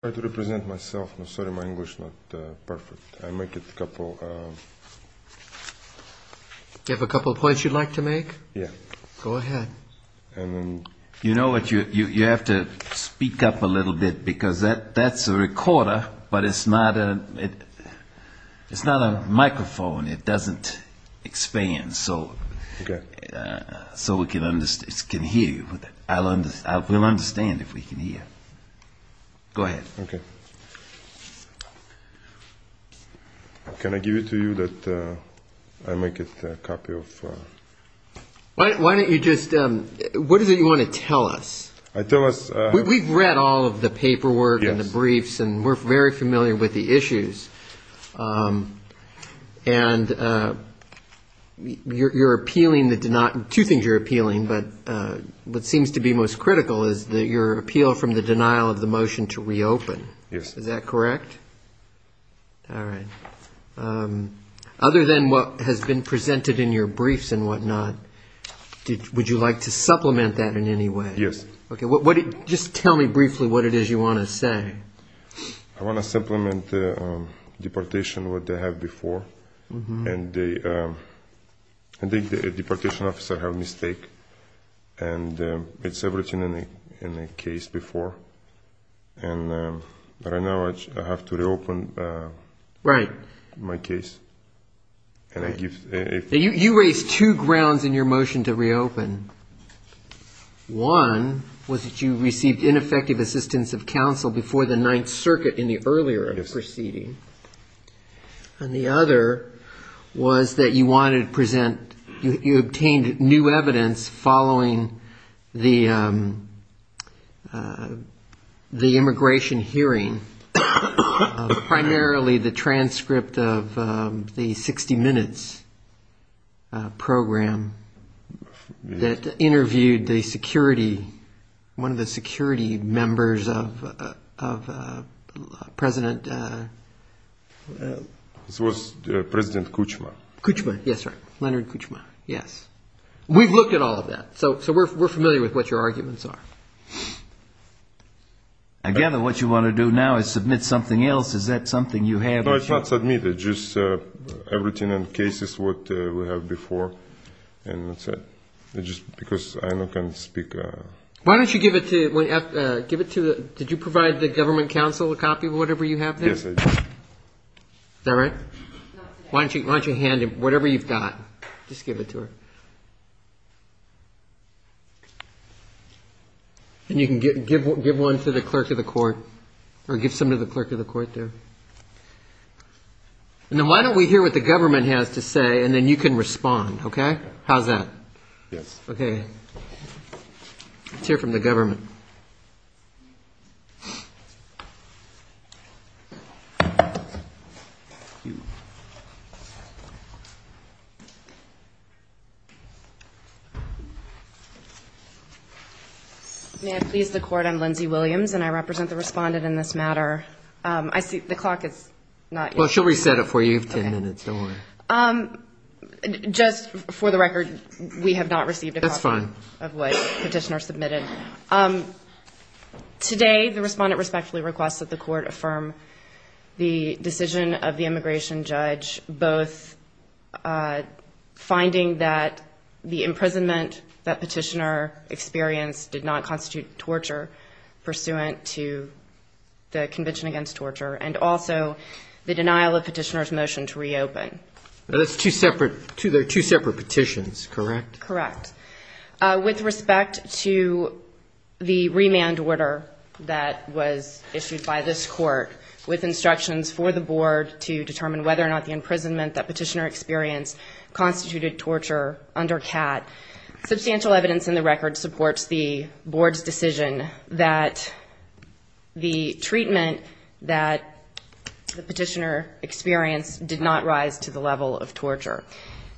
I try to represent myself. I'm sorry my English is not perfect. I make it a couple of... Do you have a couple of points you'd like to make? Yeah. Go ahead. You know what, you have to speak up a little bit because that's a recorder, but it's not a microphone. It doesn't expand so we can hear you. We'll understand if we can hear. Go ahead. Okay. Can I give it to you that I make it a copy of... Why don't you just... What is it you want to tell us? Tell us... We've read all of the paperwork and the briefs and we're very familiar with the issues. And you're appealing the... Two things you're appealing, but what seems to be most critical is your appeal from the denial of the motion to reopen. Yes. Is that correct? All right. Other than what has been presented in your briefs and whatnot, would you like to supplement that in any way? Yes. Okay. Just tell me briefly what it is you want to say. I want to supplement the deportation what they had before. And I think the deportation officer had a mistake and it's everything in the case before. And right now I have to reopen my case. You raised two grounds in your motion to reopen. One was that you received ineffective assistance of counsel before the Ninth Circuit in the earlier proceeding. And the other was that you wanted to present... You obtained new evidence following the immigration hearing, primarily the transcript of the 60 Minutes program that interviewed the security... This was President Kuchma. Kuchma. Yes, sir. Leonard Kuchma. Yes. We've looked at all of that. So we're familiar with what your arguments are. I gather what you want to do now is submit something else. Is that something you have? No, it's not submitted. Just everything in the case is what we have before. And that's it. Just because I can't speak... Why don't you give it to... Did you provide the government counsel a copy of whatever you have there? Yes, I did. Is that right? Why don't you hand him whatever you've got? Just give it to her. And you can give one to the clerk of the court or give some to the clerk of the court there. And then why don't we hear what the government has to say and then you can respond, OK? How's that? Yes. OK. Let's hear from the government. May I please the court? I'm Lindsay Williams and I represent the respondent in this matter. I see the clock is not... Well, she'll reset it for you. You have 10 minutes. Don't worry. Just for the record, we have not received a copy of what petitioner submitted. Today, the respondent respectfully requests that the court affirm the decision of the immigration judge, both finding that the imprisonment that petitioner experienced did not constitute torture pursuant to the Now that's two separate... They're two separate petitions, correct? Correct. With respect to the remand order that was issued by this court, with instructions for the board to determine whether or not the imprisonment that petitioner experienced constituted torture under CAT, substantial evidence in the record supports the board's decision that the treatment that the petitioner experienced did not rise to the level of torture.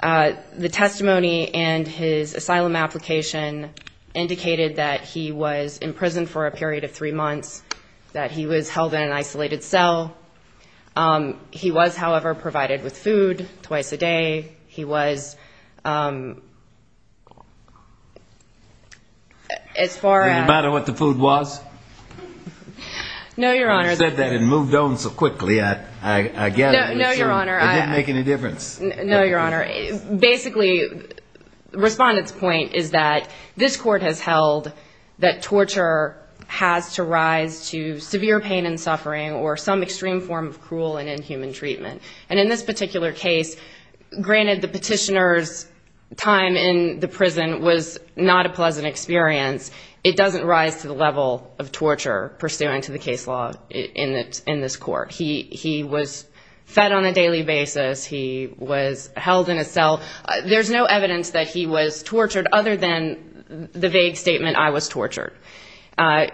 The testimony and his asylum application indicated that he was in prison for a period of three months, that he was held in an isolated cell. He was, however, provided with food twice a day. He was... Does it matter what the food was? No, Your Honor. You said that and moved on so quickly, I get it. No, Your Honor. It didn't make any difference. No, Your Honor. Basically, the respondent's point is that this court has held that torture has to rise to severe pain and suffering or some extreme form of cruel and inhuman treatment. And in this particular case, granted the petitioner's time in the prison was not a pleasant experience, it doesn't rise to the level of torture pursuant to the case law in this court. He was fed on a daily basis. He was held in a cell. There's no evidence that he was tortured other than the vague statement, I was tortured.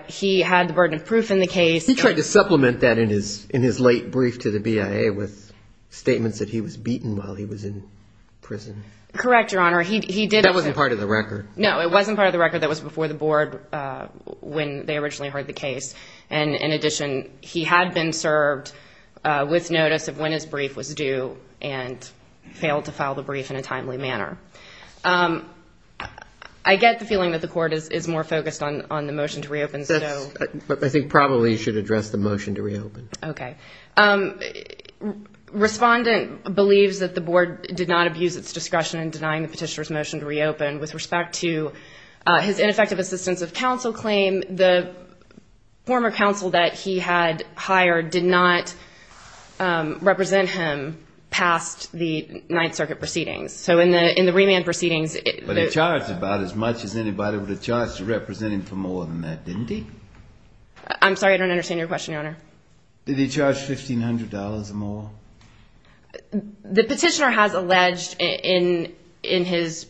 He had the burden of proof in the case. He tried to supplement that in his late brief to the BIA with statements that he was beaten while he was in prison. Correct, Your Honor. He did... That wasn't part of the record. No, it wasn't part of the record. That was before the board when they originally heard the case. And in addition, he had been served with notice of when his brief was due and failed to file the brief in a timely manner. I get the feeling that the court is more focused on the motion to reopen. I think probably you should address the motion to reopen. Okay. Respondent believes that the board did not abuse its discretion in denying the petitioner's motion to reopen. With respect to his ineffective assistance of counsel claim, the former counsel that he had hired did not represent him past the Ninth Circuit proceedings. So in the remand proceedings... He was charged about as much as anybody would have charged to represent him for more than that, didn't he? I'm sorry, I don't understand your question, Your Honor. Did he charge $1,500 or more? The petitioner has alleged in his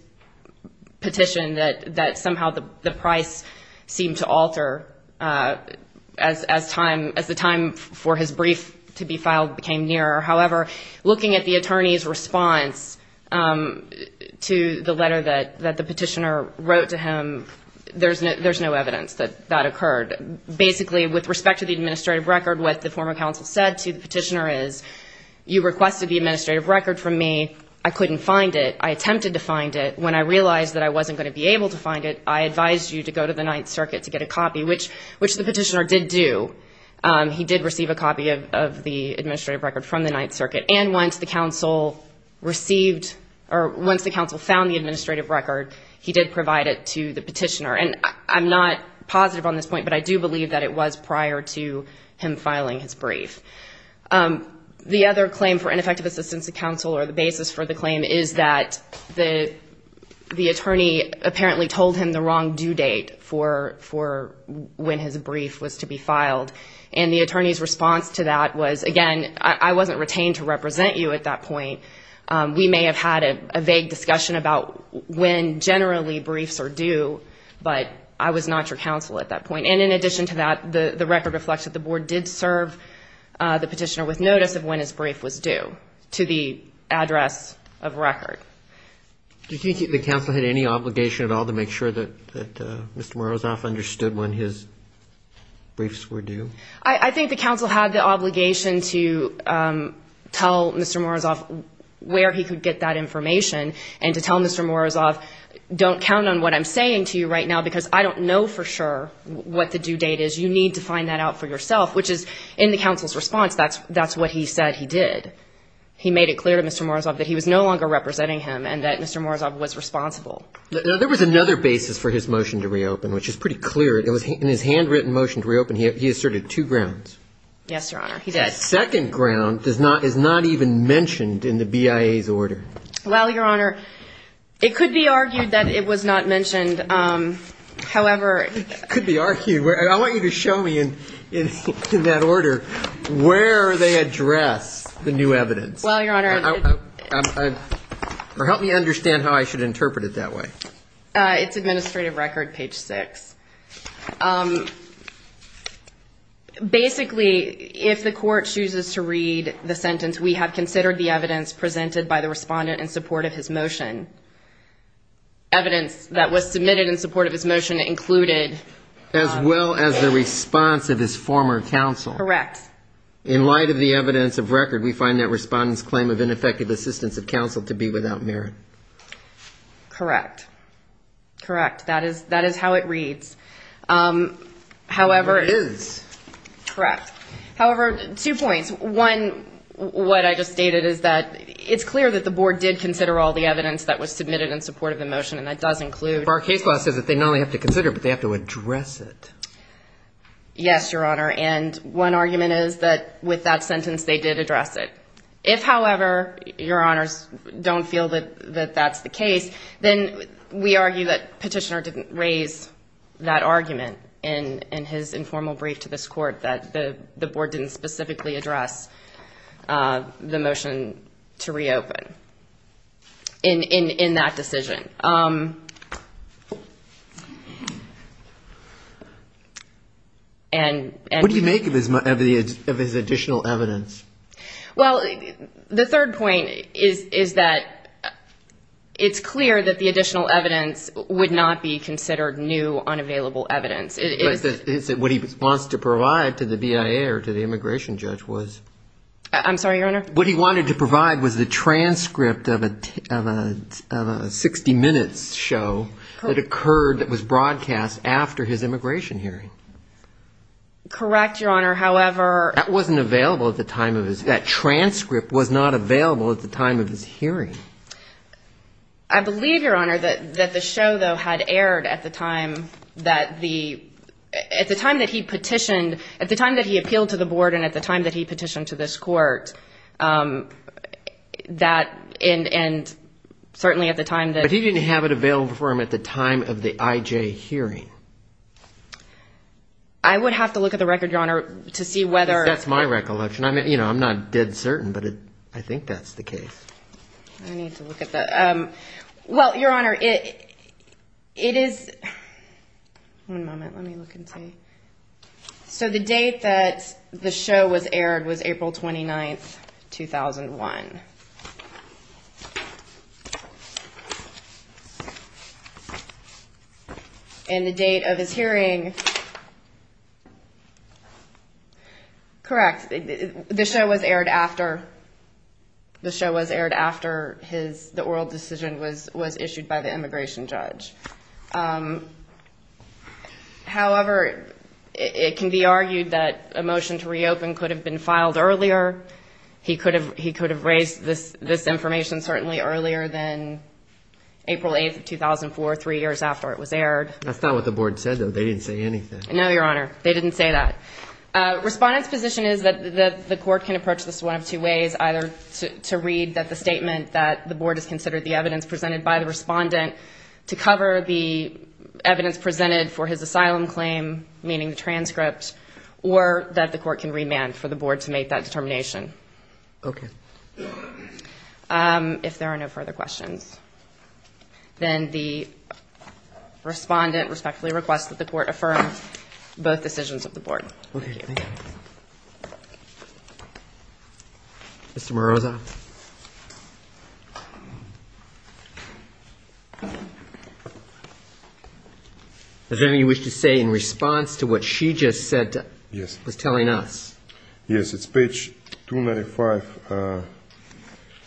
petition that somehow the price seemed to alter as the time for his brief to be filed became nearer. However, looking at the attorney's response to the letter that the petitioner wrote to him, there's no evidence that that occurred. Basically, with respect to the administrative record, what the former counsel said to the petitioner is, you requested the administrative record from me, I couldn't find it, I attempted to find it. When I realized that I wasn't going to be able to find it, I advised you to go to the Ninth Circuit to get a copy, which the petitioner did do. He did receive a copy of the administrative record from the Ninth Circuit. And once the counsel received or once the counsel found the administrative record, he did provide it to the petitioner. And I'm not positive on this point, but I do believe that it was prior to him filing his brief. The other claim for ineffective assistance to counsel, or the basis for the claim, is that the attorney apparently told him the wrong due date for when his brief was to be filed. And the attorney's response to that was, again, I wasn't retained to represent you at that point. We may have had a vague discussion about when generally briefs are due, but I was not your counsel at that point. And in addition to that, the record reflects that the board did serve the petitioner with notice of when his brief was due to the address of record. Do you think the counsel had any obligation at all to make sure that Mr. Morozov understood when his briefs were due? I think the counsel had the obligation to tell Mr. Morozov where he could get that information, and to tell Mr. Morozov, don't count on what I'm saying to you right now, because I don't know for sure what the due date is. You need to find that out for yourself, which is, in the counsel's response, that's what he said he did. He made it clear to Mr. Morozov that he was no longer representing him and that Mr. Morozov was responsible. Now, there was another basis for his motion to reopen, which is pretty clear. In his handwritten motion to reopen, he asserted two grounds. Yes, Your Honor, he did. The second ground is not even mentioned in the BIA's order. Well, Your Honor, it could be argued that it was not mentioned. It could be argued. I want you to show me, in that order, where they address the new evidence. Well, Your Honor. Help me understand how I should interpret it that way. It's Administrative Record, page 6. Basically, if the court chooses to read the sentence, we have considered the evidence presented by the respondent in support of his motion. Evidence that was submitted in support of his motion included... As well as the response of his former counsel. Correct. In light of the evidence of record, we find that respondent's claim of ineffective assistance of counsel to be without merit. Correct. Correct. That is how it reads. However... It is. Correct. However, two points. One, what I just stated is that it's clear that the board did consider all the evidence that was submitted in support of the motion, and that does include... Our case law says that they not only have to consider it, but they have to address it. Yes, Your Honor, and one argument is that with that sentence, they did address it. If, however, Your Honors don't feel that that's the case, then we argue that Petitioner didn't raise that argument in his informal brief to this court, that the board didn't specifically address the motion to reopen in that decision. What do you make of his additional evidence? Well, the third point is that it's clear that the additional evidence would not be considered new, unavailable evidence. What he wants to provide to the BIA or to the immigration judge was... I'm sorry, Your Honor? What he wanted to provide was the transcript of a 60-minutes show that occurred, that was broadcast after his immigration hearing. Correct, Your Honor. However... That wasn't available at the time of his... That transcript was not available at the time of his hearing. I believe, Your Honor, that the show, though, had aired at the time that the... At the time that he petitioned, at the time that he appealed to the board and at the time that he petitioned to this court, that... And certainly at the time that... But he didn't have it available for him at the time of the IJ hearing. I would have to look at the record, Your Honor, to see whether... That's my recollection. I'm not dead certain, but I think that's the case. I need to look at the... Well, Your Honor, it is... One moment. Let me look and see. So the date that the show was aired was April 29, 2001. And the date of his hearing... Correct. The show was aired after... The show was aired after his... The oral decision was issued by the immigration judge. However, it can be argued that a motion to reopen could have been filed earlier. He could have raised this information certainly earlier than April 8, 2004, three years after it was aired. That's not what the board said, though. They didn't say anything. No, Your Honor. They didn't say that. Respondent's position is that the court can approach this one of two ways, either to read that the statement that the board has considered the evidence presented by the respondent to cover the evidence presented for his asylum claim, meaning the transcript, or that the court can remand for the board to make that determination. Okay. If there are no further questions, then the respondent respectfully requests that the court affirm both decisions of the board. Okay. Thank you. Mr. Morozo. Mr. Morozo. Does anybody wish to say in response to what she just said, was telling us? Yes, it's page 295,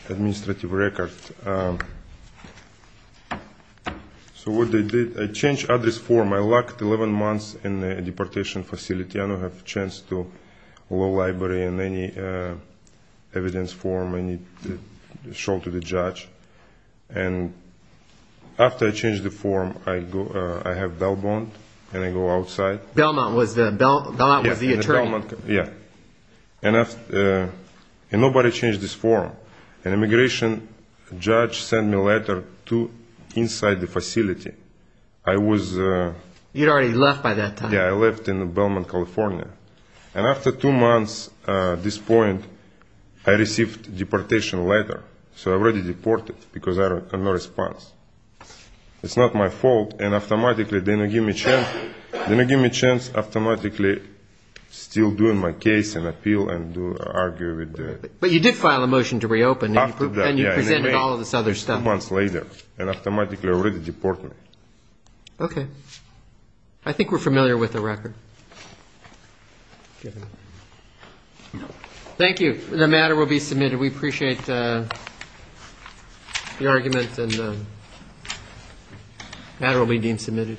administrative record. So what they did, they changed address form. I locked 11 months in a deportation facility. I don't have a chance to go to the library in any evidence form. I need to show it to the judge. And after I changed the form, I have a bail bond, and I go outside. Bail bond was the attorney. Yes. And nobody changed this form. An immigration judge sent me a letter to inside the facility. You had already left by that time. Yes, I left in Belmont, California. And after two months at this point, I received a deportation letter. So I was already deported because I had no response. It's not my fault, and automatically they didn't give me a chance. They didn't give me a chance, automatically still doing my case and appeal and argue. But you did file a motion to reopen. After that, yes. And you presented all of this other stuff. Two months later, and automatically already deported me. Okay. I think we're familiar with the record. Thank you. The matter will be submitted. We appreciate the argument, and the matter will be deemed submitted.